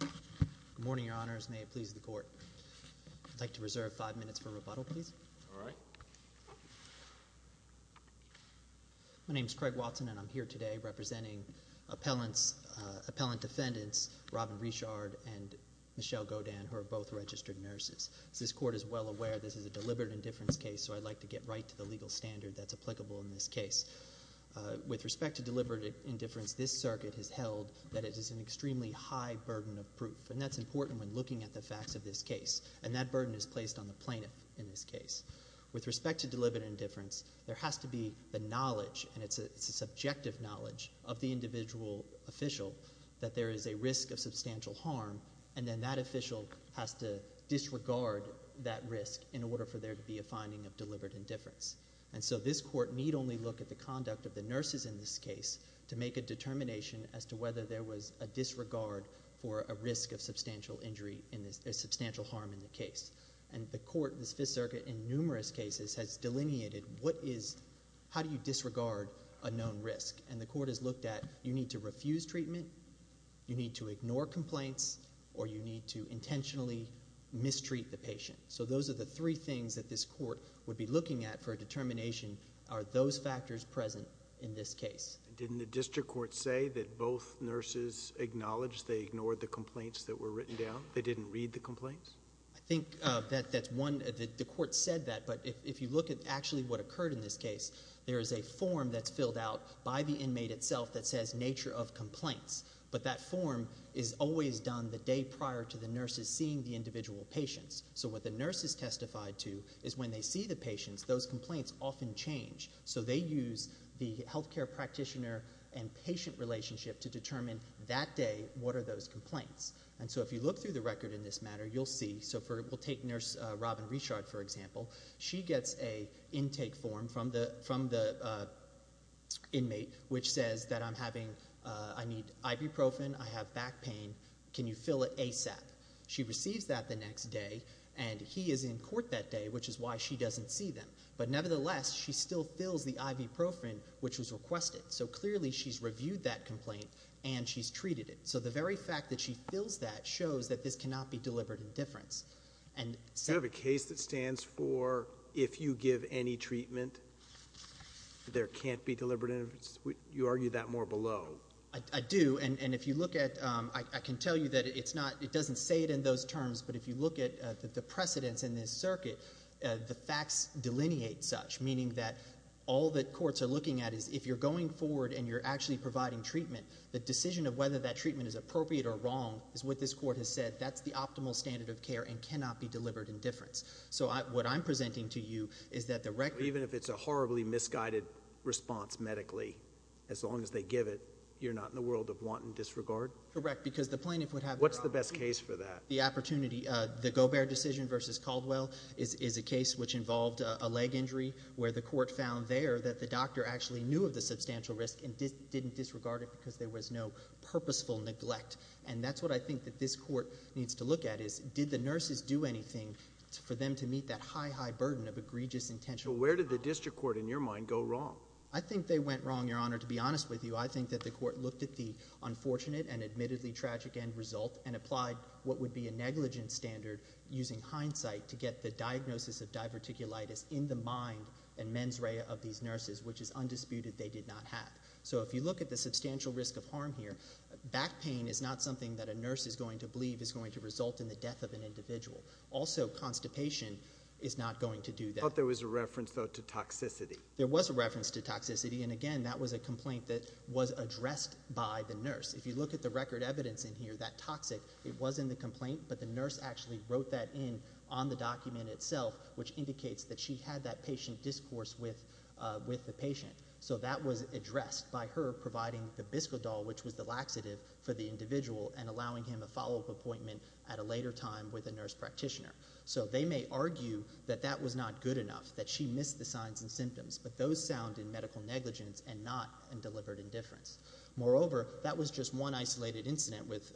Good morning, Your Honors. May it please the Court. I'd like to reserve five minutes for rebuttal, please. My name is Craig Watson, and I'm here today representing appellant defendants Robin Richard and Michelle Godin, who are both registered nurses. As this Court is well aware, this is a deliberate indifference case, so I'd like to get right to the legal standard that's applicable in this case. With respect to deliberate indifference, this circuit has held that it is an extremely high burden of proof, and that's important when looking at the facts of this case, and that burden is placed on the plaintiff in this case. With respect to deliberate indifference, there has to be the knowledge, and it's a subjective knowledge, of the individual official that there is a risk of substantial harm, and then that official has to disregard that risk in order for there to be a finding of deliberate indifference. And so this Court need only look at the conduct of the nurses in this case to make a determination as to whether there was a disregard for a risk of substantial injury, a substantial harm in the case. And the Court, this Fifth Circuit, in numerous cases has delineated what is, how do you disregard a known risk? And the Court has looked at, you need to refuse treatment, you need to ignore complaints, or you need to intentionally mistreat the patient. So those are the three things that this Court would be looking at for a determination, are those factors present in this case. Didn't the District Court say that both nurses acknowledged they ignored the complaints that were written down? They didn't read the complaints? I think that's one, the Court said that, but if you look at actually what occurred in this case, there is a form that's filled out by the inmate itself that says, nature of complaints. But that form is always done the day prior to the nurses seeing the individual patients. So what the nurses testified to is when they see the patients, those complaints often change. So they use the healthcare practitioner and patient relationship to determine that day what are those complaints. And so if you look through the record in this matter, you'll see, so for, we'll take nurse Robin Richard, for example, she gets a intake form from the inmate, which says that I'm having, I need ibuprofen, I have back pain, can you fill it ASAP? She receives that the next day, and he is in court that day, which is why she doesn't see them. But nevertheless, she still fills the ibuprofen, which was requested. So clearly she's reviewed that complaint, and she's treated it. So the very fact that she fills that shows that this cannot be delivered indifference. And so- Do you have a case that stands for, if you give any treatment, there can't be deliberate indifference? You argue that more below. I do, and if you look at, I can tell you that it's not, it doesn't say it in those terms, but if you look at the precedents in this circuit, the facts delineate such, meaning that all that courts are looking at is if you're going forward and you're actually providing treatment, the decision of whether that treatment is appropriate or wrong is what this court has said, that's the optimal standard of care and cannot be delivered indifference. So what I'm presenting to you is that the record- Correct, because the plaintiff would have- What's the best case for that? The opportunity, the Gobert decision versus Caldwell is a case which involved a leg injury where the court found there that the doctor actually knew of the substantial risk and didn't disregard it because there was no purposeful neglect. And that's what I think that this court needs to look at is, did the nurses do anything for them to meet that high, high burden of egregious intention? So where did the district court, in your mind, go wrong? I think they went wrong, Your Honor. To be honest with you, I think that the court looked at the unfortunate and admittedly tragic end result and applied what would be a negligence standard using hindsight to get the diagnosis of diverticulitis in the mind and mens rea of these nurses, which is undisputed they did not have. So if you look at the substantial risk of harm here, back pain is not something that a nurse is going to believe is going to result in the death of an individual. Also, constipation is not going to do that. I thought there was a reference, though, to toxicity. There was a reference to toxicity, and again, that was a complaint that was addressed by the nurse. If you look at the record evidence in here, that toxic, it was in the complaint, but the nurse actually wrote that in on the document itself, which indicates that she had that patient discourse with the patient. So that was addressed by her providing the biscodol, which was the laxative for the individual, and allowing him a follow-up appointment at a later time with a nurse practitioner. So they may argue that that was not good enough, that she missed the signs and symptoms, but those sound in medical negligence and not in delivered indifference. Moreover, that was just one isolated incident with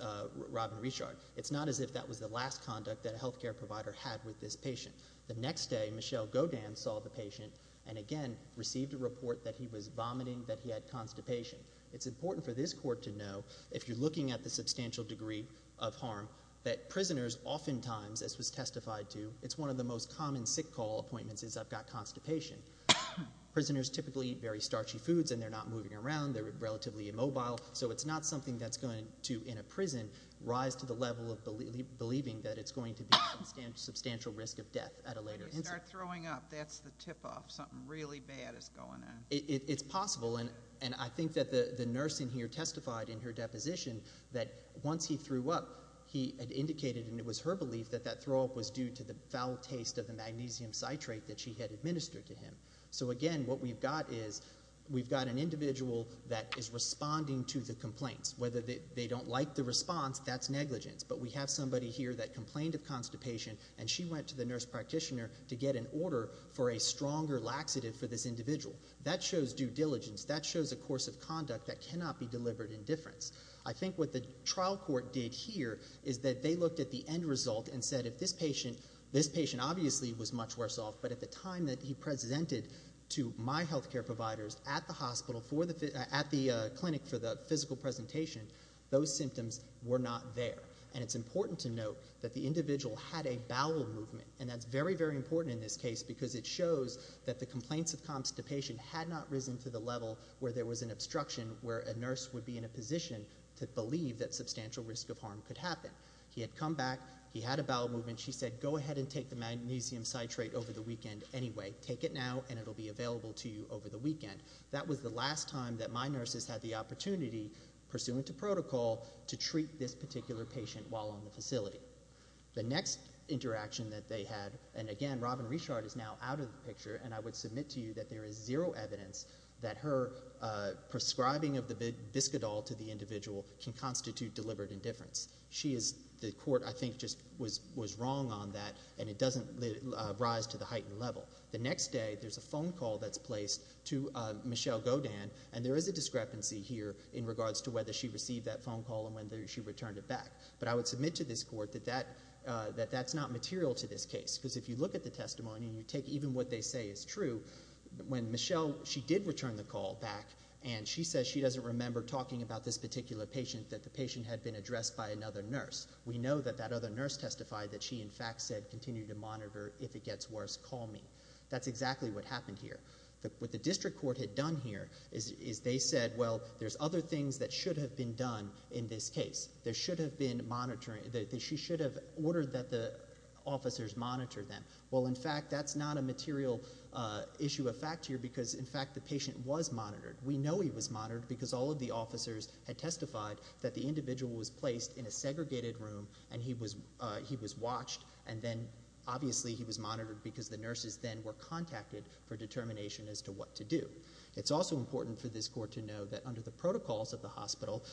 Robin Richard. It's not as if that was the last conduct that a health care provider had with this patient. The next day, Michelle Godin saw the patient and, again, received a report that he was vomiting, that he had constipation. It's important for this court to know, if you're looking at the substantial degree of harm, that prisoners oftentimes, as was testified to, it's one of the most common sick call appointments, is, I've got constipation. Prisoners typically eat very starchy foods and they're not moving around, they're relatively immobile, so it's not something that's going to, in a prison, rise to the level of believing that it's going to be a substantial risk of death at a later instance. When they start throwing up, that's the tip-off. Something really bad is going on. It's possible, and I think that the nurse in here testified in her deposition that, once he threw up, he had indicated, and it was her belief, that that throw-up was due to the foul taste of the magnesium citrate that she had administered to him. So, again, what we've got is, we've got an individual that is responding to the complaints. Whether they don't like the response, that's negligence, but we have somebody here that complained of constipation and she went to the nurse practitioner to get an order for a stronger laxative for this individual. That shows due diligence. That shows a course of conduct that cannot be delivered in difference. I think what the trial court did here is that they looked at the end result and said, if this patient, this patient obviously was much worse off, but at the time that he presented to my healthcare providers at the hospital for the, at the clinic for the physical presentation, those symptoms were not there. And it's important to note that the individual had a bowel movement, and that's very, very important in this case because it shows that the complaints of constipation had not risen to the level where there was an obstruction where a nurse would be in a position to believe that substantial risk of harm could happen. He had come back, he had a bowel movement, she said, go ahead and take the magnesium citrate over the weekend anyway. Take it now and it'll be available to you over the weekend. That was the last time that my nurses had the opportunity, pursuant to protocol, to treat this particular patient while on the facility. The next interaction that they had, and again, Robin Richard is now out of the picture, and I would submit to you that there is zero evidence that her prescribing of the biscadol to the individual can constitute deliberate indifference. She is, the court I think just was wrong on that, and it doesn't rise to the heightened level. The next day, there's a phone call that's placed to Michelle Godin, and there is a discrepancy here in regards to whether she received that phone call and whether she returned it back. But I would submit to this court that that's not material to this case, because if you look at the testimony, and you take even what they say is true, when Michelle, she did return the call back, and she says she doesn't remember talking about this particular patient, that the patient had been addressed by another nurse. We know that that other nurse testified that she in fact said, continue to monitor if it gets worse, call me. That's exactly what happened here. What the district court had done here is they said, well, there's other things that should have been done in this case. There should have been monitoring, that she should have ordered that the officers monitor them. Well, in fact, that's not a material issue of fact here, because in fact the patient was monitored. We know he was monitored, because all of the officers had testified that the individual was placed in a segregated room, and he was watched, and then obviously he was monitored, because the nurses then were contacted for determination as to what to do. It's also important for this court to know that under the protocols of the hospital,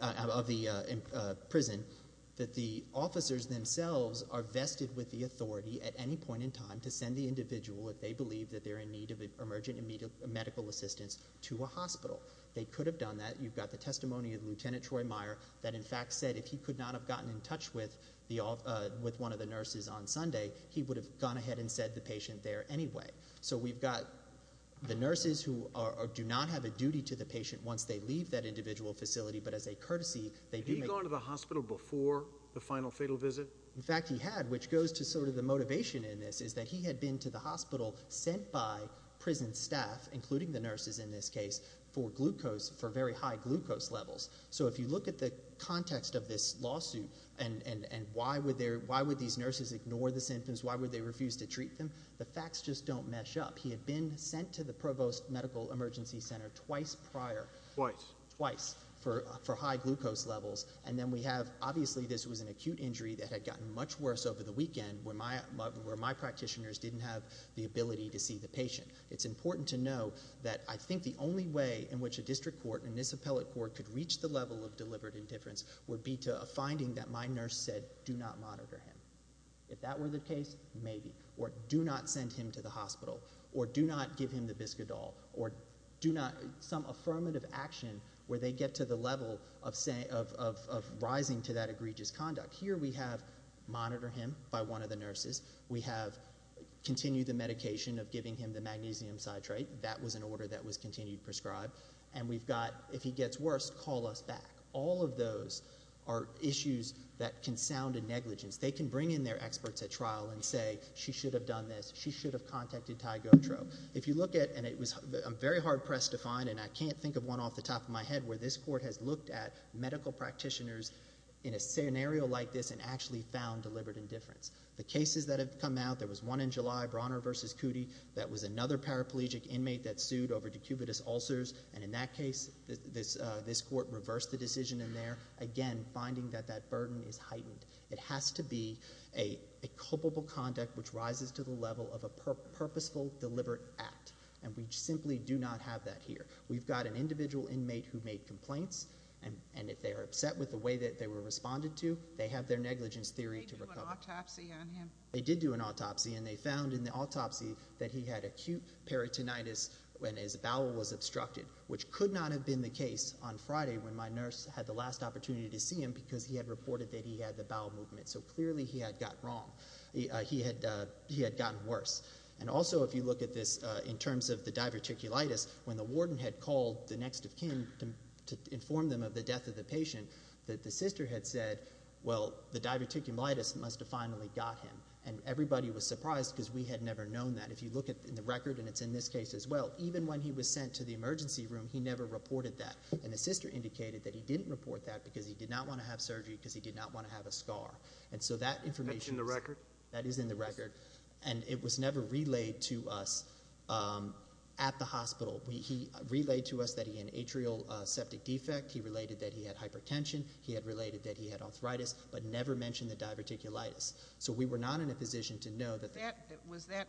of the prison, that the officers themselves are vested with the authority at any point in time to send the individual that they believe that they're in need of emergent medical assistance to a hospital. They could have done that. You've got the testimony of Lieutenant Troy Meyer, that in fact said if he could not have gotten in touch with one of the nurses on Sunday, he would have gone ahead and said the patient there anyway. So we've got the nurses who do not have a duty to the patient once they leave that individual facility, but as a courtesy, they do make... Had he gone to the hospital before the final fatal visit? In fact, he had, which goes to sort of the motivation in this, is that he had been to the hospital sent by prison staff, including the nurses in this case, for glucose, for very high glucose levels. So if you look at the context of this lawsuit, and why would these nurses ignore the symptoms, why would they refuse to treat them, the facts just don't mesh up. He had been sent to the Provost Medical Emergency Center twice prior. Twice? Twice, for high glucose levels. And then we have, obviously this was an acute injury that had gotten much worse over the weekend, where my practitioners didn't have the ability to see the patient. It's important to know that I think the only way in which a district court and this appellate court could reach the level of deliberate indifference would be to a finding that my nurse said, do not monitor him. If that were the case, maybe. Or do not send him to the hospital. Or do not give him the biscadol. Or do not, some affirmative action where they get to the level of rising to that egregious conduct. Here we have monitor him by one of the nurses. We have continued the medication of giving him the magnesium citrate. That was an order that was continued prescribed. And we've got, if he gets worse, call us back. All of those are issues that can sound a negligence. They can bring in their experts at trial and say, she should have done this. She should have contacted Ty Gotro. If you look at, and it was, I'm very hard pressed to find, and I can't think of one off the top of my head where this court has looked at medical practitioners in a scenario like this and actually found deliberate indifference. The cases that have come out, there was one in July, Bronner versus Cudi, that was another paraplegic inmate that sued over decubitus ulcers. And in that case, this court reversed the decision in there. Again, finding that that burden is heightened. It has to be a culpable conduct which rises to the level of a purposeful, deliberate act. And we simply do not have that here. We've got an individual inmate who made complaints, and if they're upset with the way that they were responded to, they have their negligence theory to recover. They did do an autopsy on him. They did do an autopsy, and they found in the autopsy that he had acute peritonitis when his bowel was obstructed, which could not have been the case on Friday when my nurse had the last opportunity to see him because he had reported that he had the bowel movement. So clearly he had gotten wrong. He had gotten worse. And also if you look at this in terms of the diverticulitis, when the warden had called the next of kin to inform them of the death of the patient, the sister had said, well, the diverticulitis must have finally got him. And everybody was surprised because we had never known that. If you look at the record, and it's in this case as well, even when he was sent to the hospital, he didn't report that because he did not want to have surgery because he did not want to have a scar. And so that information is in the record, and it was never relayed to us at the hospital. He relayed to us that he had an atrial septic defect. He related that he had hypertension. He had related that he had arthritis, but never mentioned the diverticulitis. So we were not in a position to know that that was that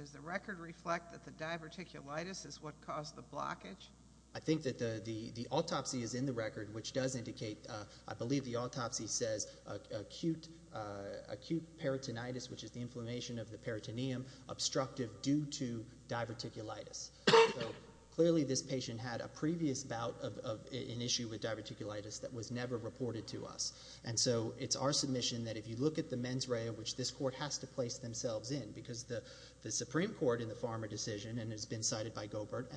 is the record reflect that the diverticulitis is what caused the blockage. I think that the autopsy is in the record, which does indicate, I believe the autopsy says acute peritonitis, which is the inflammation of the peritoneum, obstructive due to diverticulitis. Clearly this patient had a previous bout of an issue with diverticulitis that was never reported to us. And so it's our submission that if you look at the mens rea, which this court has to place themselves in, because the Supreme Court in the Farmer decision, and it's been cited by the court,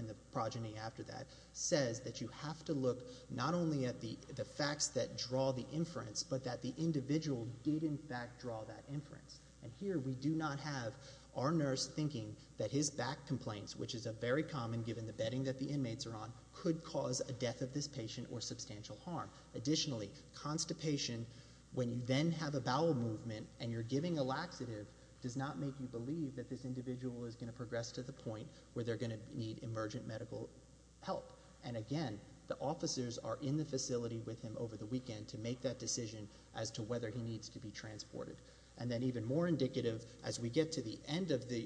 says that you have to look not only at the facts that draw the inference, but that the individual did in fact draw that inference. And here we do not have our nurse thinking that his back complaints, which is a very common given the bedding that the inmates are on, could cause a death of this patient or substantial harm. Additionally constipation, when you then have a bowel movement and you're giving a laxative, does not make you believe that this individual is going to progress to the point where they're going to need emergent medical help. And again, the officers are in the facility with him over the weekend to make that decision as to whether he needs to be transported. And then even more indicative, as we get to the end of the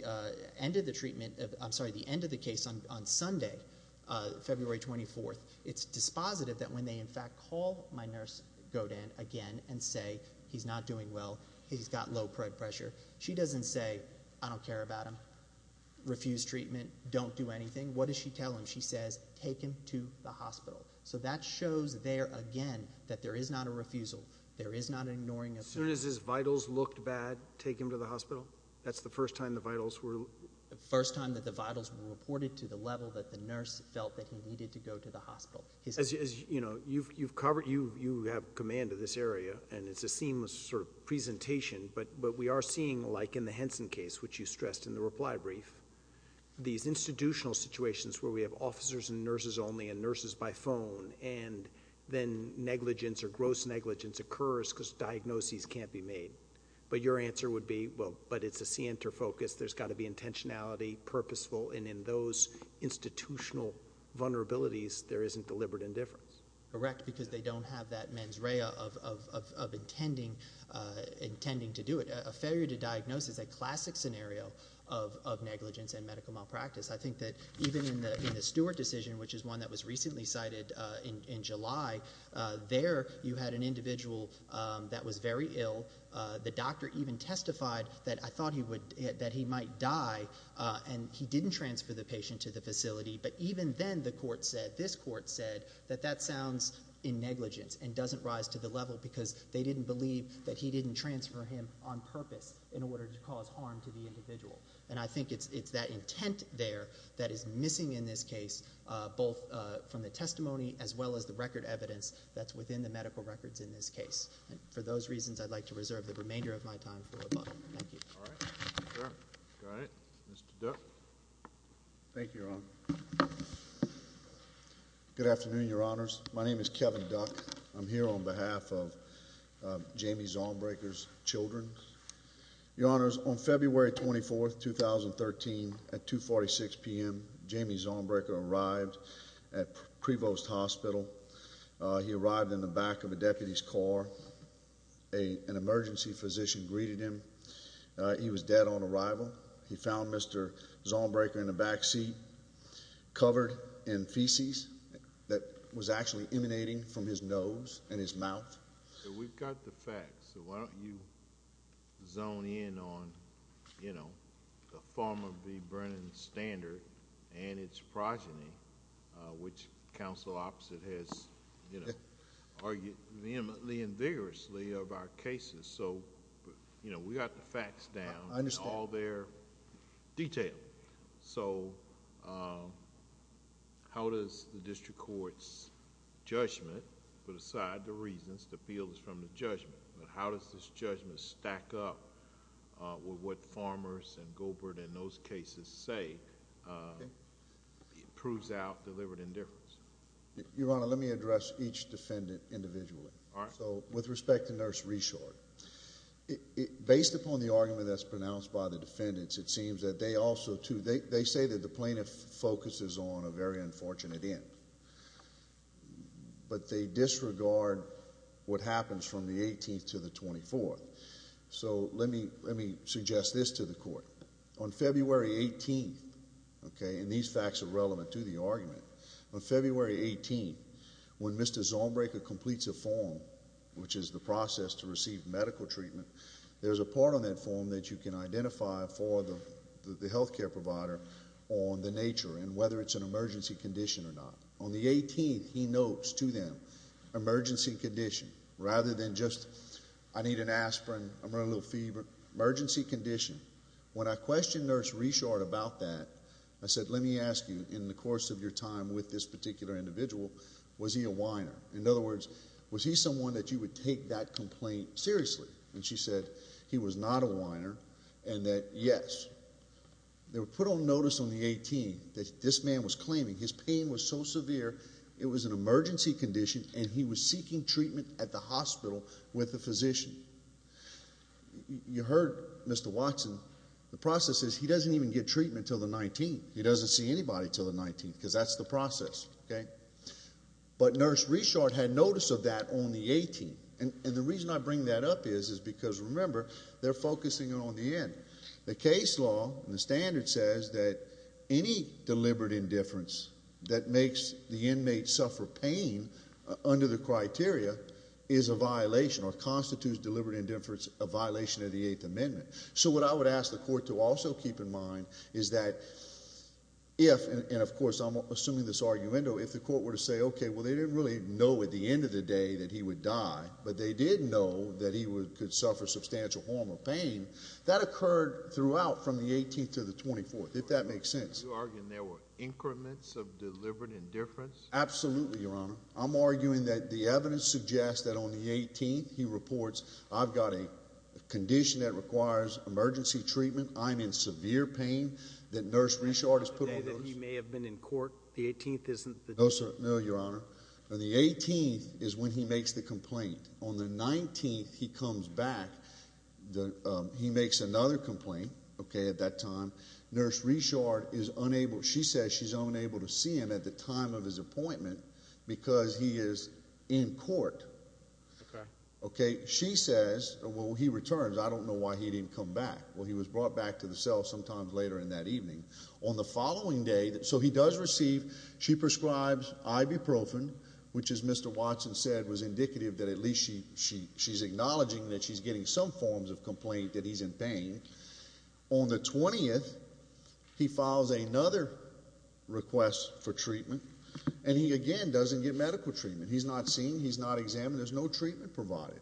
case on Sunday, February 24th, it's dispositive that when they in fact call my nurse, Godin, again and say he's not doing well, he's got low blood pressure, she doesn't say, I don't care about him, refuse treatment, don't do anything, what does she tell him? She says, take him to the hospital. So that shows there again that there is not a refusal, there is not an ignoring of him. As soon as his vitals looked bad, take him to the hospital? That's the first time the vitals were? First time that the vitals were reported to the level that the nurse felt that he needed to go to the hospital. As you know, you've covered, you have command of this area and it's a seamless sort of presentation, but we are seeing like in the Henson case, which you stressed in the reply brief, these institutional situations where we have officers and nurses only and nurses by phone, and then negligence or gross negligence occurs because diagnoses can't be made. But your answer would be, well, but it's a center focus, there's got to be intentionality, purposeful, and in those institutional vulnerabilities, there isn't deliberate indifference. Correct, because they don't have that mens rea of intending to do it. A failure to diagnose is a classic scenario of negligence and medical malpractice. I think that even in the Stewart decision, which is one that was recently cited in July, there you had an individual that was very ill. The doctor even testified that I thought he might die and he didn't transfer the patient to the facility, but even then the court said, this court said, that that sounds in negligence and doesn't rise to the level because they didn't believe that he didn't transfer him on purpose in order to cause harm to the individual. And I think it's that intent there that is missing in this case, both from the testimony as well as the record evidence that's within the medical records in this case. For those reasons, I'd like to reserve the remainder of my time for rebuttal. Thank you. All right. All right. Mr. Duck. Thank you, Your Honor. Good afternoon, Your Honors. My name is Kevin Duck. I'm here on behalf of Jamie Zahnbruecker's children. Your Honors, on February 24, 2013, at 2.46 p.m., Jamie Zahnbruecker arrived at Prevost Hospital. He arrived in the back of a deputy's car. An emergency physician greeted him. He was dead on arrival. He found Mr. Zahnbruecker in the backseat, covered in feces that was actually emanating from his nose and his mouth. We've got the facts, so why don't you zone in on, you know, the form of the Brennan Standard and its progeny, which counsel Opposite has, you know, argued vehemently and vigorously of our cases. You know, we've got the facts down. I understand. And all their detail. How does the district court's judgment, put aside the reasons, the field is from the judgment, but how does this judgment stack up with what Farmers and Goldberg and those cases say proves out deliberate indifference? Your Honor, let me address each defendant individually. All right. So, with respect to Nurse Reshore, based upon the argument that's pronounced by the defendants, it seems that they also, too, they say that the plaintiff focuses on a very unfortunate end. But they disregard what happens from the 18th to the 24th. So, let me suggest this to the court. On February 18th, okay, and these facts are relevant to the argument. On February 18th, when Mr. Zornbraker completes a form, which is the process to receive medical treatment, there's a part on that form that you can identify for the health care provider on the nature and whether it's an emergency condition or not. On the 18th, he notes to them, emergency condition, rather than just, I need an aspirin, I'm running a little fever, emergency condition. When I questioned Nurse Reshore about that, I said, let me ask you, in the same time with this particular individual, was he a whiner? In other words, was he someone that you would take that complaint seriously? And she said, he was not a whiner, and that, yes. They were put on notice on the 18th that this man was claiming his pain was so severe, it was an emergency condition, and he was seeking treatment at the hospital with a physician. You heard Mr. Watson, the process is he doesn't even get treatment until the 19th. He doesn't see anybody until the 19th, because that's the process. But Nurse Reshore had notice of that on the 18th. And the reason I bring that up is because, remember, they're focusing on the end. The case law, the standard says that any deliberate indifference that makes the inmate suffer pain under the criteria is a violation or constitutes deliberate indifference, a violation of the Eighth Amendment. So what I would ask the court to also keep in mind is that if, and of course I'm assuming this argument, if the court were to say, okay, well, they didn't really know at the end of the day that he would die, but they did know that he could suffer substantial harm or pain, that occurred throughout from the 18th to the 24th, if that makes sense. You're arguing there were increments of deliberate indifference? Absolutely, Your Honor. I'm arguing that the evidence suggests that on the 18th, he reports, I've got a condition that requires emergency treatment. I'm in severe pain that Nurse Reshore has put on those. You're saying that he may have been in court? The 18th isn't the date? No, sir. No, Your Honor. On the 18th is when he makes the complaint. On the 19th, he comes back. He makes another complaint, okay, at that time. Nurse Reshore is unable, she says she's unable to see him at the time of his appointment because he is in court. Okay. She says, well, he returns. I don't know why he didn't come back. Well, he was brought back to the cell sometimes later in that evening. On the following day, so he does receive, she prescribes ibuprofen, which, as Mr. Watson said, was indicative that at least she's acknowledging that she's getting some forms of complaint that he's in pain. On the 20th, he files another request for treatment, and he again doesn't get medical treatment. He's not seen. He's not examined. There's no treatment provided.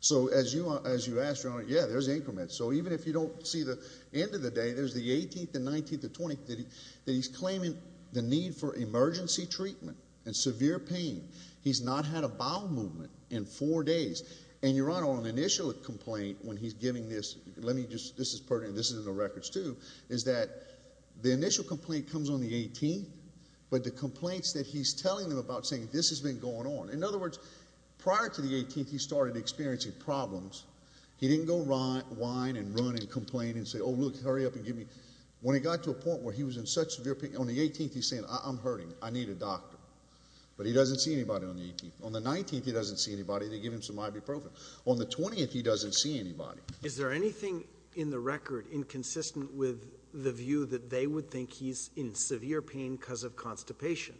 So as you asked, Your Honor, yeah, there's increments. So even if you don't see the end of the day, there's the 18th, the 19th, the 20th that he's claiming the need for emergency treatment and severe pain. He's not had a bowel movement in four days. And, Your Honor, on the initial complaint when he's giving this, let me just, this is pertinent, this is in the records too, is that the initial complaint comes on the 18th, but the complaints that he's telling them about saying this has been going on. In other words, prior to the 18th, he started experiencing problems. He didn't go whine and run and complain and say, oh, look, hurry up and give me. When he got to a point where he was in such severe pain, on the 18th, he's saying, I'm hurting. I need a doctor. But he doesn't see anybody on the 18th. On the 19th, he doesn't see anybody. They give him some ibuprofen. On the 20th, he doesn't see anybody. Is there anything in the record inconsistent with the view that they would think he's in severe pain because of constipation?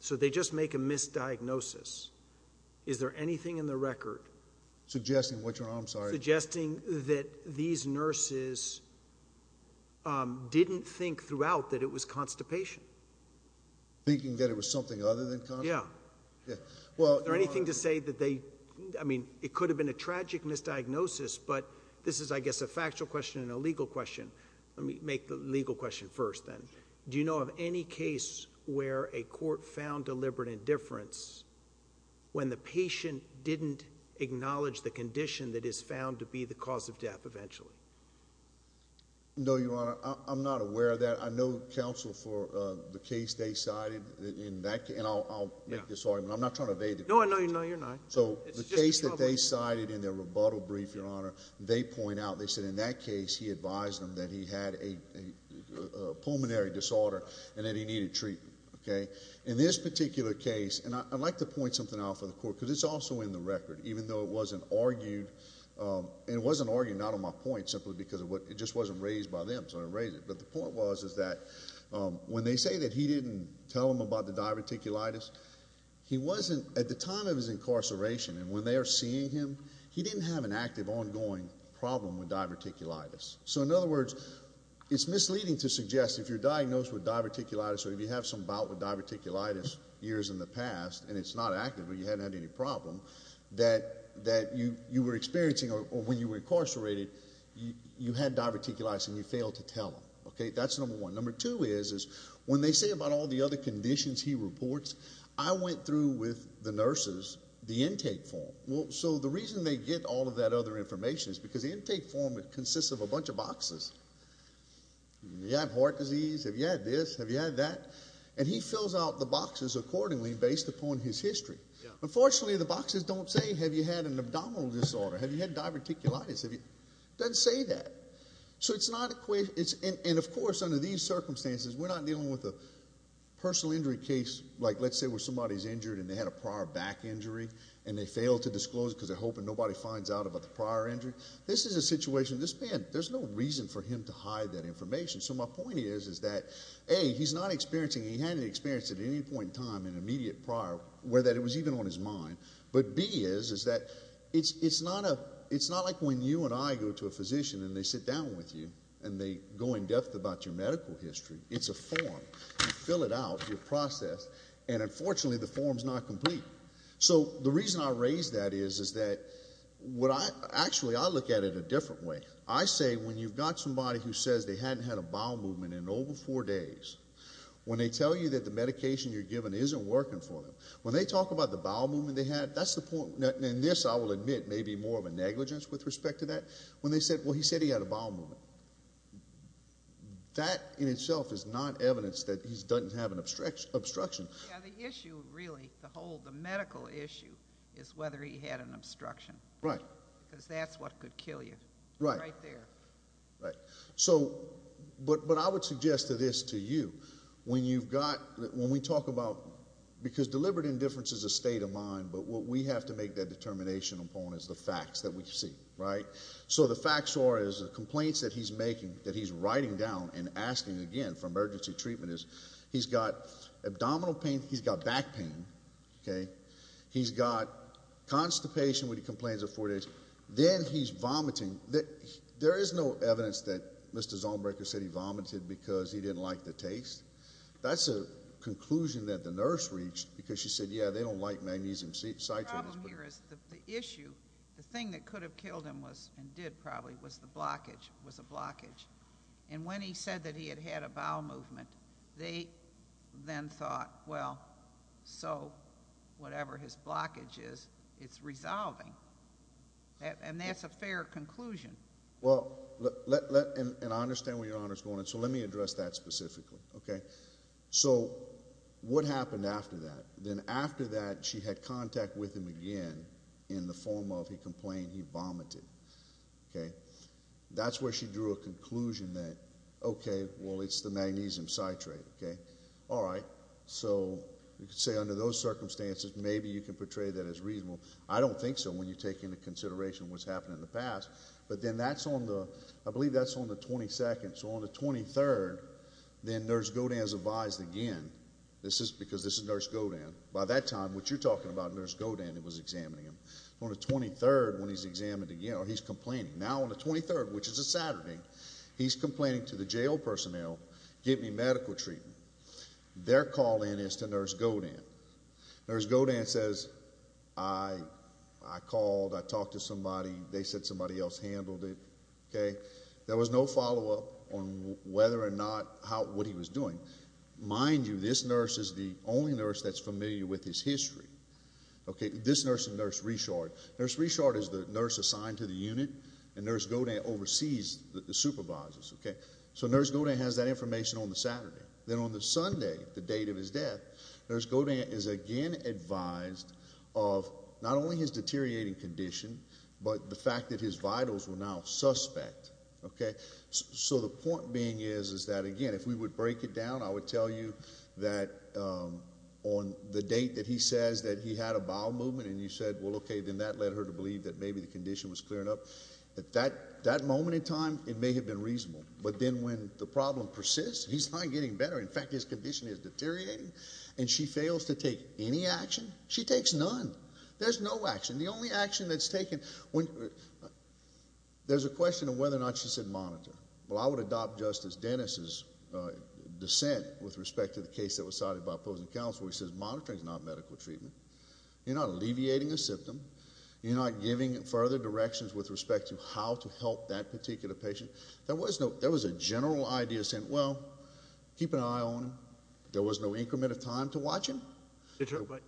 So they just make a misdiagnosis. Is there anything in the record... Suggesting, which one? I'm sorry. Suggesting that these nurses didn't think throughout that it was constipation. Thinking that it was something other than constipation? Yeah. Yeah. Well... Is there anything to say that they, I mean, it could have been a tragic misdiagnosis, but this is, I guess, a factual question and a legal question. Let me make the legal question first then. Do you know of any case where a court found deliberate indifference when the patient didn't acknowledge the condition that is found to be the cause of death eventually? No, Your Honor. I'm not aware of that. I know counsel for the case they cited in that... And I'll make this argument. I'm not trying to evade the question. No, I know you're not. So the case that they cited in their rebuttal brief, Your Honor, they point out, they said in that case, he advised them that he had a pulmonary disorder and that he needed treatment. Okay? In this particular case, and I'd like to point something out for the court, because it's also in the record, even though it wasn't argued. And it wasn't argued, not on my point, simply because it just wasn't raised by them, so I didn't raise it. But the point was is that when they say that he didn't tell them about the diverticulitis, he wasn't, at the time of his incarceration and when they are seeing him, he didn't have an active, ongoing problem with diverticulitis. So in other words, it's misleading to suggest if you're diagnosed with diverticulitis or if you have some bout with diverticulitis years in the past, and it's not active, but you haven't had any problem, that you were experiencing, or when you were incarcerated, you had diverticulitis and you failed to tell them. Okay? That's number one. Number two is, when they say about all the other conditions he reports, I went through with the nurses the intake form. So the reason they get all of that other information is because the nurses fill out a bunch of boxes. Do you have heart disease? Have you had this? Have you had that? And he fills out the boxes accordingly based upon his history. Unfortunately, the boxes don't say, have you had an abdominal disorder? Have you had diverticulitis? It doesn't say that. So it's not, and of course, under these circumstances, we're not dealing with a personal injury case, like let's say where somebody is injured and they had a prior back injury and they failed to disclose it because they're hoping nobody finds out about the prior injury. This is a situation, this man, there's no reason for him to hide that information. So my point is, is that A, he's not experiencing, he hadn't experienced at any point in time an immediate prior where that it was even on his mind. But B is, is that it's not like when you and I go to a physician and they sit down with you and they go in depth about your medical history. It's a form. You fill it out. You process. And unfortunately, the form's not complete. So the reason I raise that is, is that what I, actually I look at it a different way. I say when you've got somebody who says they hadn't had a bowel movement in over four days, when they tell you that the medication you're giving isn't working for them, when they talk about the bowel movement they had, that's the point, and this I will admit may be more of a negligence with respect to that. When they said, well, he said he had a bowel movement. That in itself is not evidence that he doesn't have an obstruction. Yeah, the issue really, the whole, the medical issue is whether he had an obstruction. Right. Because that's what could kill you. Right. Right there. Right. So, but I would suggest to this to you, when you've got, when we talk about, because deliberate indifference is a state of mind, but what we have to make that determination upon is the facts that we see, right? So the facts are, is the complaints that he's making, that he's writing down and asking again for emergency treatment is, he's got abdominal pain, he's got back pain, okay? He's got constipation when he complains of four days, then he's vomiting. There is no evidence that Mr. Zollenberger said he vomited because he didn't like the taste. That's a conclusion that the nurse reached because she said, yeah, they don't like magnesium citrate. The problem here is the issue, the thing that could have killed him was, and did probably, was the blockage, was a blockage, and when he said that he had had a bowel movement, they then thought, well, so, whatever his blockage is, it's resolving. And that's a fair conclusion. Well, let, and I understand where Your Honor is going, so let me address that specifically, okay? So what happened after that? Then after that, she had contact with him again in the form of he complained he vomited, okay? That's where she drew a conclusion that, okay, well, it's the magnesium citrate, okay? All right. So you could say under those circumstances, maybe you can portray that as reasonable. I don't think so when you take into consideration what's happened in the past. But then that's on the, I believe that's on the 22nd. So on the 23rd, then Nurse Godin is advised again. This is because this is Nurse Godin. By that time, what you're talking about, Nurse Godin was examining him. On the 23rd, when he's examined again, he's complaining. Now on the 23rd, which is a Saturday, he's complaining to the jail personnel, get me medical treatment. Their call in is to Nurse Godin. Nurse Godin says, I called, I talked to somebody, they said somebody else handled it, okay? There was no follow-up on whether or not how, what he was doing. Mind you, this nurse is the only nurse that's familiar with his history, okay? This nurse and Nurse Richard. Nurse Richard is the nurse assigned to the unit, and Nurse Godin oversees the supervisors, okay? So Nurse Godin has that information on the Saturday. Then on the Sunday, the date of his death, Nurse Godin is again advised of not only his deteriorating condition, but the fact that his vitals were now suspect, okay? So the point being is that, again, if we would break it down, I would then that led her to believe that maybe the condition was clearing up. At that moment in time, it may have been reasonable. But then when the problem persists, he's not getting better. In fact, his condition is deteriorating, and she fails to take any action. She takes none. There's no action. The only action that's taken when there's a question of whether or not she should monitor. Well, I would adopt Justice Dennis's dissent with respect to the case that was cited by opposing counsel, which says monitoring is not medical treatment. You're not alleviating a symptom. You're not giving further directions with respect to how to help that particular patient. There was a general idea saying, well, keep an eye on him. There was no increment of time to watch him. But,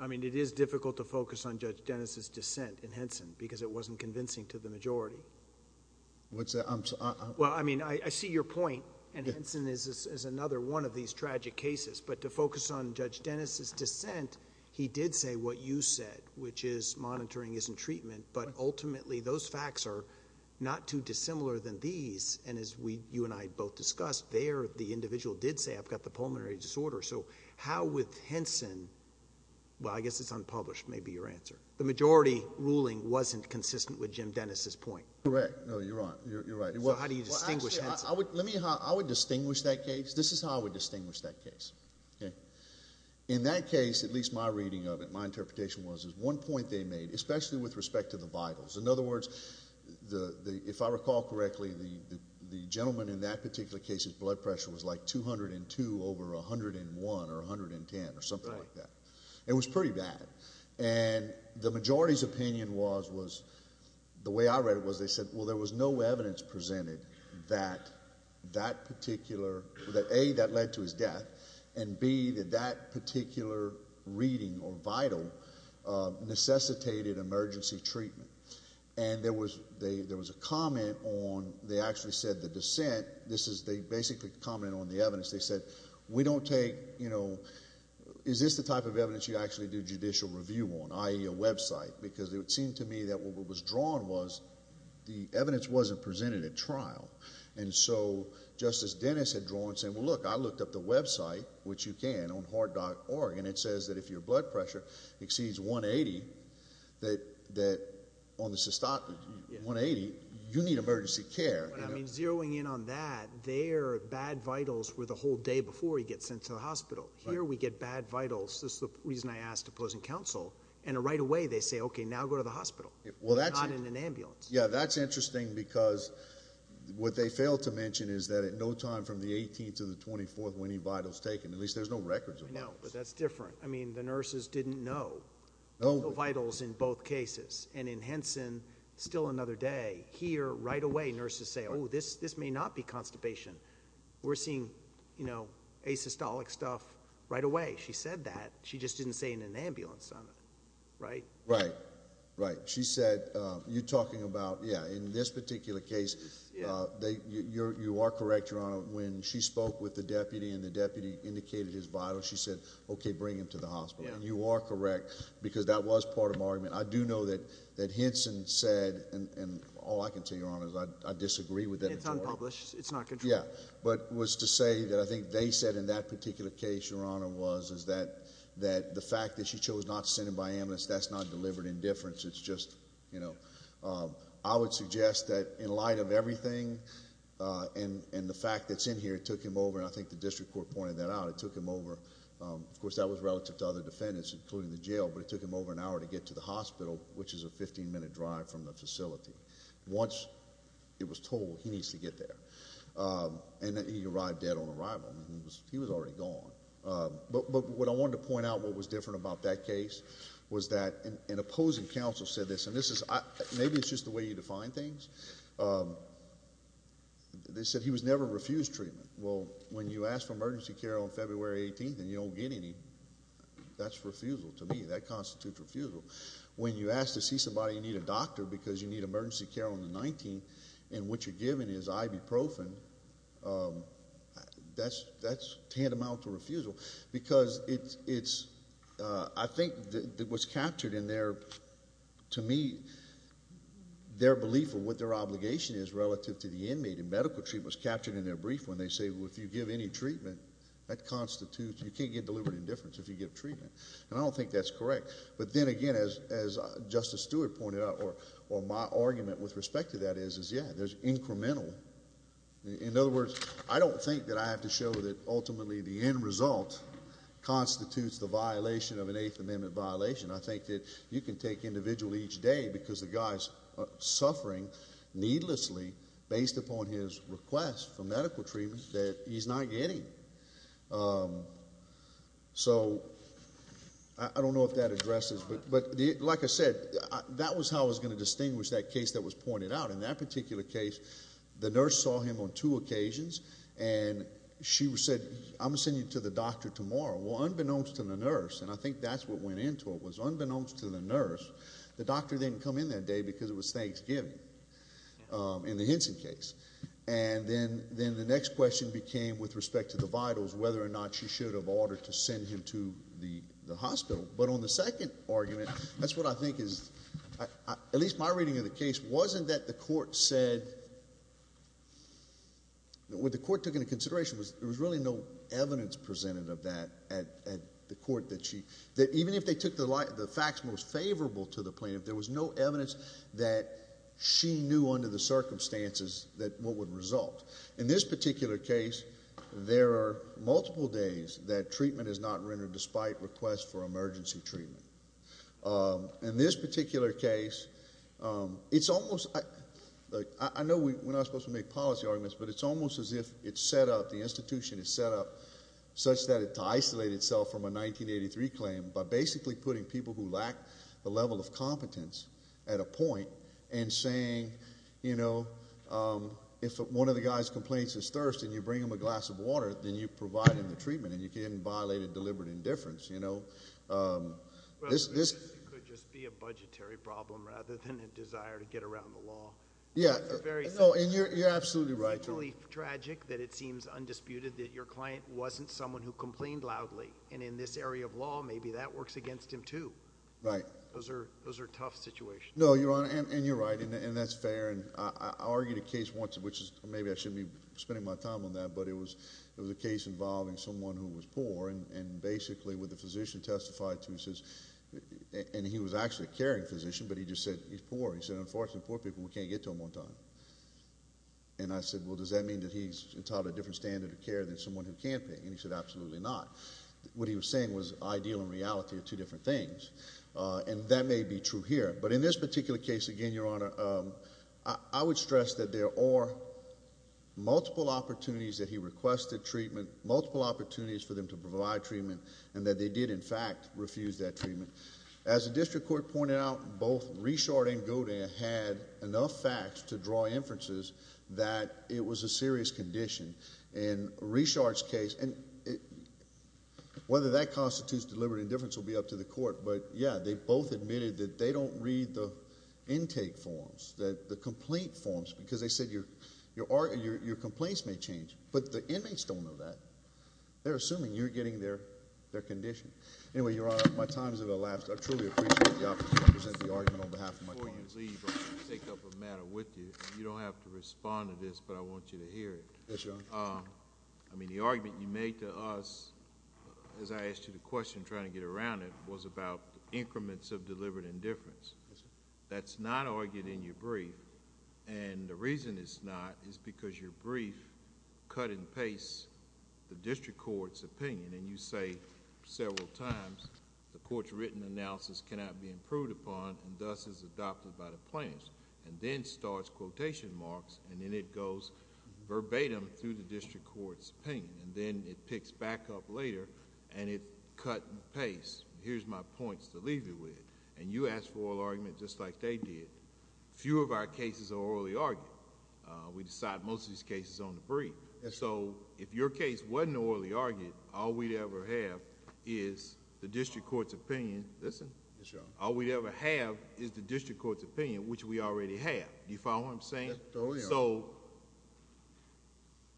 I mean, it is difficult to focus on Judge Dennis's dissent in Henson because it wasn't convincing to the majority. Well, I mean, I see your point, and Henson is another one of these tragic cases. But to focus on Judge Dennis's dissent, he did say what you said, which is monitoring isn't treatment. But ultimately, those facts are not too dissimilar than these. And as you and I both discussed, there the individual did say, I've got the pulmonary disorder. So how would Henson... well, I guess it's unpublished may be your answer. The majority ruling wasn't consistent with Jim Dennis's point. Correct. No, you're right. You're right. Well, how do you distinguish Henson? Well, actually, let me... I would distinguish that case. This is how I would distinguish that case. In that case, at least my reading of it, my interpretation was, there's one point they made, especially with respect to the vitals. In other words, if I recall correctly, the gentleman in that particular case's blood pressure was like 202 over 101 or 110 or something like that. It was pretty bad. And the majority's opinion was... the way I read it was they said, well, there was no evidence presented that that particular... that A, that led to his death, and B, that that particular reading or vital necessitated emergency treatment. And there was a comment on... they actually said the dissent... this is... they basically commented on the evidence. They said, we don't take... is this the type of evidence you actually do judicial review on, i.e. a website? Because it would seem to me that what was drawn was the evidence wasn't presented at trial. And so, Justice Dennis had drawn and said, well, look, I looked up the website, which you can, on heart.org, and it says that if your blood pressure exceeds 180, that on the... 180, you need emergency care. I mean, zeroing in on that, their bad vitals were the whole day before he gets sent to the hospital. Here, we get bad vitals. This is the reason I asked opposing counsel. And right away, they say, okay, now go to the hospital, not in an ambulance. Yeah, that's interesting because what they fail to mention is that at no time from the 18th to the 24th were any vitals taken. At least there's no records of those. I know, but that's different. I mean, the nurses didn't know. No vitals in both cases. And in Henson, still another day. Here, right away, nurses say, oh, this may not be constipation. We're seeing, you know, asystolic stuff right away. She said that. She just didn't say in an ambulance on it. Right? Right. Right. She said, you're talking about, yeah, in this particular case, you are correct, Your Honor, when she spoke with the deputy and the deputy indicated his vitals, she said, okay, bring him to the hospital. And you are correct because that was part of my argument. I do know that Henson said, and all I can tell you, Your Honor, is I disagree with that. It's unpublished. It's not controlled. Yeah, but was to say that I think they said in that particular case, Your Honor, was that the fact that she chose not to send him by ambulance, that's not delivered indifference. It's just, you know, I would suggest that in light of everything and the fact that it's in here, it took him over, and I think the district court pointed that out, it took him over. Of course, that was relative to other defendants, including the jail, but it took him over an hour to get to the hospital, which is a 15-minute drive from the facility. Once it was told, he needs to get there. And he arrived dead on arrival. He was already gone. But what I wanted to point out, what was different about that case, was that an opposing counsel said this, and maybe it's just the way you define things. They said he was never refused treatment. Well, when you ask for emergency care on February 18th and you don't get any, that's refusal to me. That constitutes refusal. When you ask to see somebody, you need a doctor because you need emergency care on the 19th, and what you're given is ibuprofen, that's tantamount to refusal. Because it's, I think what's captured in there, to me, their belief of what their obligation is relative to the inmate, and medical treatment was captured in their brief when they say, well, if you give any treatment, that constitutes, you can't get deliberate indifference if you give treatment. And I don't think that's correct. But then again, as Justice Stewart pointed out, or my argument with respect to that is, is, yeah, there's incremental. In other words, I don't think that I have to show that ultimately the end result constitutes the violation of an Eighth Amendment violation. I think that you can take individual each day because the guy's suffering needlessly based upon his request for medical treatment that he's not getting. So, I don't know if that addresses, but like I said, that was how I was going to distinguish that case that was pointed out. In that particular case, the nurse saw him on two occasions, and she said, I'm going to send you to the doctor tomorrow. Well, unbeknownst to the nurse, and I think that's what went into it, was unbeknownst to the nurse, the doctor didn't come in that day because it was Thanksgiving in the Henson case. And then the next question became, with respect to the vitals, whether or not she should have ordered to send him to the hospital. But on the second argument, that's what I think is, at least my reading of the case, wasn't that the court said, what the court took into consideration was there was really no evidence presented of that at the court that she, that even if they took the facts most favorable to the plaintiff, there was no evidence that she knew under the circumstances that what would result. In this particular case, there are multiple days that treatment is not rendered despite request for emergency treatment. In this particular case, it's almost like, I know we're not supposed to make policy arguments, but it's almost as if it's set up, the institution is set up such that it's to isolate itself from a 1983 claim by basically putting people who lack the level of competence at a point and saying, you know, if one of the guy's complaints is thirst and you bring him a glass of water, then you've provided the treatment and you didn't violate a deliberate indifference, you know. This... It could just be a budgetary problem rather than a desire to get around the law. Yeah. It's a very... No, and you're absolutely right. It's actually tragic that it seems undisputed that your client wasn't someone who complained loudly, and in this area of law, maybe that works against him too. Right. Those are tough situations. No, Your Honor, and you're right, and that's fair. I argued a case once, which maybe I shouldn't be spending my time on that, but it was a case involving someone who was poor, and basically what the physician testified to is... and he was actually a caring physician, but he just said he's poor. He said, unfortunately, poor people, we can't get to them on time. And I said, well, does that mean that he's entitled to a different standard of care than someone who can't pay? And he said, absolutely not. What he was saying was ideal and reality are two different things, and that may be true here. But in this particular case, again, Your Honor, I would stress that there were multiple opportunities that he requested treatment, multiple opportunities for them to provide treatment, and that they did, in fact, refuse that treatment. As the district court pointed out, both Reshard and Godin had enough facts to draw inferences that it was a serious condition. In Reshard's case, and whether that constitutes deliberate indifference will be up to the court, but, yeah, they both admitted that they don't read the intake forms, the complaint forms, because they said your complaints may change, but the inmates don't know that. They're assuming you're getting their condition. Anyway, Your Honor, my time has elapsed. I truly appreciate the opportunity to present the argument on behalf of my clients. Before you leave, I want to take up a matter with you. You don't have to respond to this, but I want you to hear it. Yes, Your Honor. I mean, the argument you made to us as I asked you the question, trying to get around it, was about increments of deliberate indifference. That's not argued in your brief, and the reason it's not is because your brief cut and paste the district court's opinion, and you say several times, the court's written analysis cannot be improved upon, and thus is adopted by the plaintiffs, and then starts quotation marks, and then it goes verbatim through the district court's opinion, and then it picks back up later, and it cut and paste. Here's my points to leave you with. You asked for an argument just like they did. Few of our cases are orally argued. We decide most of these cases on the brief. If your case wasn't orally argued, all we'd ever have is the district court's opinion. Listen. Yes, Your Honor. All we'd ever have is the district court's opinion, which we already have. Do you follow what I'm saying? Oh,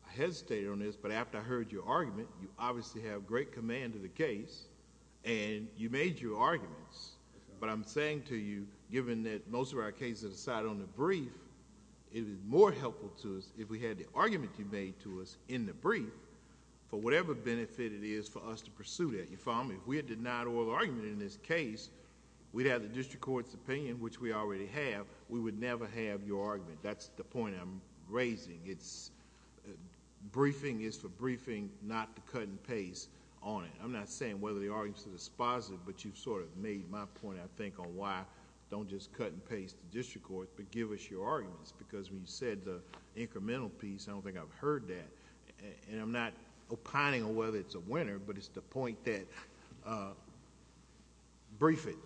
yeah. I hesitated on this, but after I heard your argument, you obviously have great command of the case, and you made your arguments, but I'm saying to you, given that most of our cases are decided on the brief, it is more helpful to us if we had the argument you made to us in the brief for whatever benefit it is for us to pursue that. You follow me? If we had denied oral argument in this case, we'd have the district court's opinion, which we already have. We would never have your argument. That's the point I'm raising. Briefing is for briefing, not to cut and paste on it. I'm not saying whether the arguments are dispositive, but you've made my point, I think, on why don't just cut and paste the district court, but give us your arguments, because when you said the incremental piece, I don't think I've heard that. I'm not opining on whether it's a winner, but it's the point that... brief it.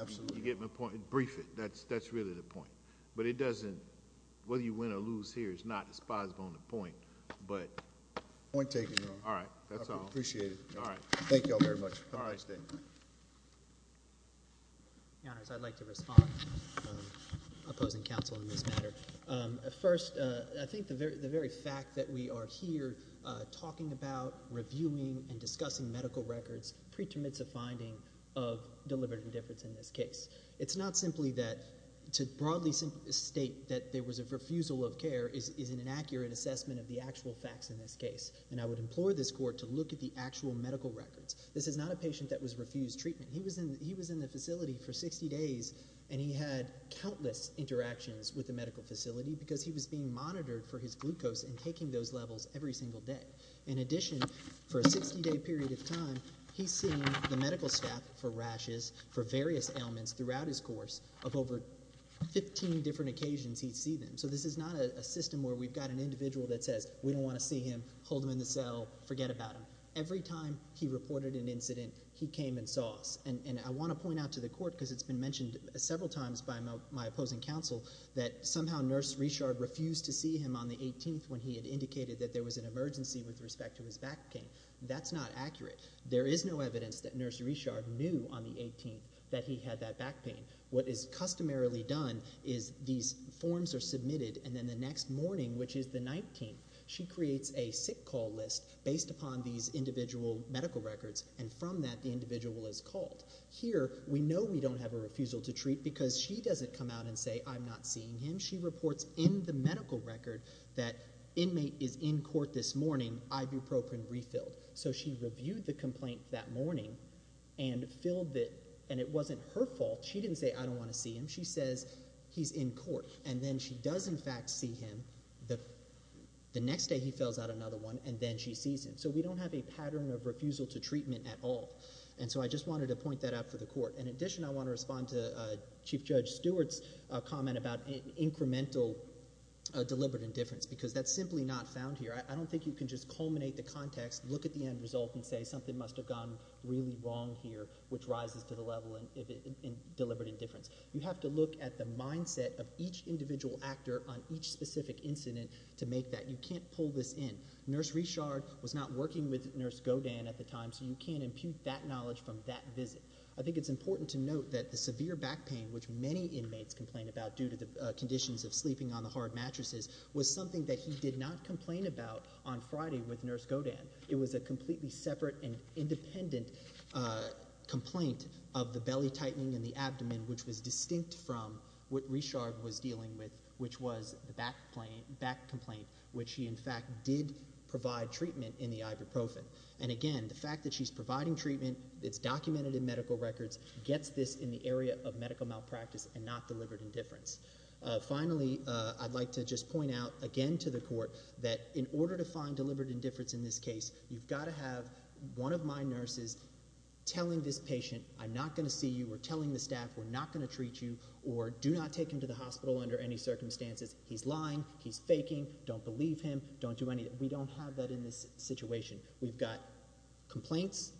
Absolutely. You get my point? Brief it. That's really the point. Whether you win or lose here is not dispositive on the point, but... Point taken, Your Honor. All right. That's all. I appreciate it. All right. Thank you all very much. All right. Thank you. Your Honors, I'd like to respond, opposing counsel in this matter. First, I think the very fact that we are here talking about, reviewing, and discussing medical records, pretermits a finding of deliberate indifference in this case. It's not simply that... to broadly state that there was a refusal of care is an inaccurate assessment of the actual facts in this case, and I would implore this court to look at the actual medical records. This is not a patient that was refused treatment. He was in the facility for 60 days, and he had countless interactions with the medical facility because he was being monitored for his glucose and taking those levels every single day. In addition, for a 60-day period of time, he's seen the medical staff for throughout his course of over 15 different occasions he'd see them. So this is not a system where we've got an individual that says, we don't want to see him, hold him in the cell, forget about him. Every time he reported an incident, he came and saw us. And I want to point out to the court, because it's been mentioned several times by my opposing counsel, that somehow Nurse Richard refused to see him on the 18th when he had indicated that there was an emergency with respect to his back pain. That's not accurate. There is no evidence that Nurse Richard knew on the 18th that he had that back pain. What is customarily done is these forms are submitted, and then the next morning, which is the 19th, she creates a sick call list based upon these individual medical records, and from that, the individual is called. Here, we know we don't have a refusal to treat because she doesn't come out and say, I'm not seeing him. She reports in the medical record that inmate is in court this morning, ibuprofen refilled. So she reviewed the complaint that morning and filled it, and it wasn't her fault. She didn't say, I don't want to see him. She says, he's in court. And then she does, in fact, see him. The next day, he fills out another one, and then she sees him. So we don't have a pattern of refusal to treatment at all. And so I just wanted to point that out for the court. In addition, I want to respond to Chief Judge Stewart's comment about incremental deliberate indifference, because that's simply not found here. I don't think you can just culminate the context, look at the end result, and say something must have gone really wrong here, which rises to the level of deliberate indifference. You have to look at the mindset of each individual actor on each specific incident to make that. You can't pull this in. Nurse Richard was not working with Nurse Godin at the time, so you can't impute that knowledge from that visit. I think it's important to note that the severe back pain, which many inmates complain about due to the conditions of sleeping on the hard couch on Friday with Nurse Godin, it was a completely separate and independent complaint of the belly tightening and the abdomen, which was distinct from what Richard was dealing with, which was the back complaint, which he, in fact, did provide treatment in the ibuprofen. And again, the fact that she's providing treatment, it's documented in medical records, gets this in the area of medical malpractice and not deliberate indifference. Finally, I'd like to just point out again to the court that in order to find deliberate indifference in this case, you've got to have one of my nurses telling this patient, I'm not going to see you or telling the staff we're not going to treat you or do not take him to the hospital under any circumstances. He's lying. He's faking. Don't believe him. Don't do anything. We don't have that in this situation. We've got complaints,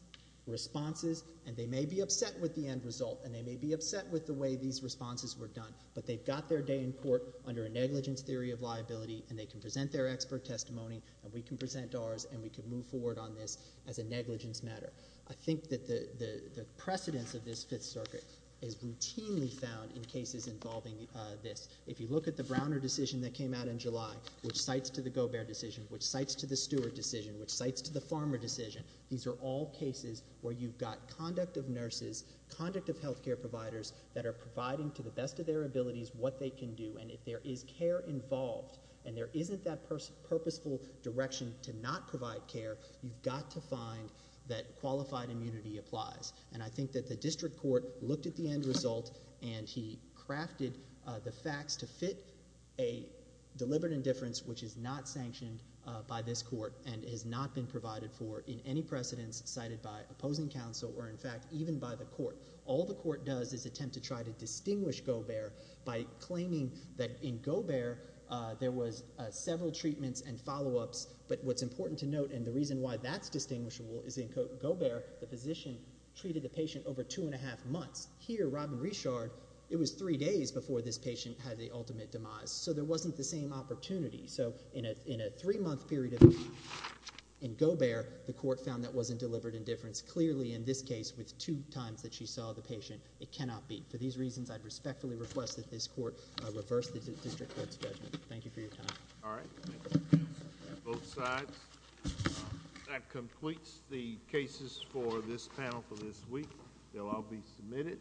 responses, and they may be upset with the end result and they may be upset with the way these responses were done, but they've got their day in court under a negligence theory of liability and they can present their expert testimony and we can present ours and we can move forward on this as a negligence matter. I think that the precedence of this Fifth Circuit is routinely found in cases involving this. If you look at the Browner decision that came out in July, which cites to the Gobert decision, which cites to the Stewart decision, which cites to the Farmer decision, these are all cases where you've got conduct of nurses, conduct of health care providers that are providing to the best of their abilities what they can do, and if there is care involved and there isn't that purposeful direction to not provide care, you've got to find that qualified immunity applies. And I think that the district court looked at the end result and he crafted the facts to fit a deliberate indifference which is not sanctioned by this court and has not been provided for in any precedence cited by opposing counsel or, in fact, even by the court. All the court does is attempt to try to distinguish Gobert by claiming that in Gobert there was several treatments and follow-ups, but what's important to note and the reason why that's distinguishable is in Gobert the physician treated the patient over two and a half months. Here, Robin Richard, it was three days before this patient had the ultimate demise, so there wasn't the same opportunity. So in a three-month period in Gobert, the court found that wasn't a deliberate indifference clearly in this case with two times that she saw the patient. It cannot be. For these reasons, I respectfully request that this court reverse the district court's judgment. Thank you for your time. All right. Thank you. Both sides. That completes the cases for this panel for this week. They'll all be submitted.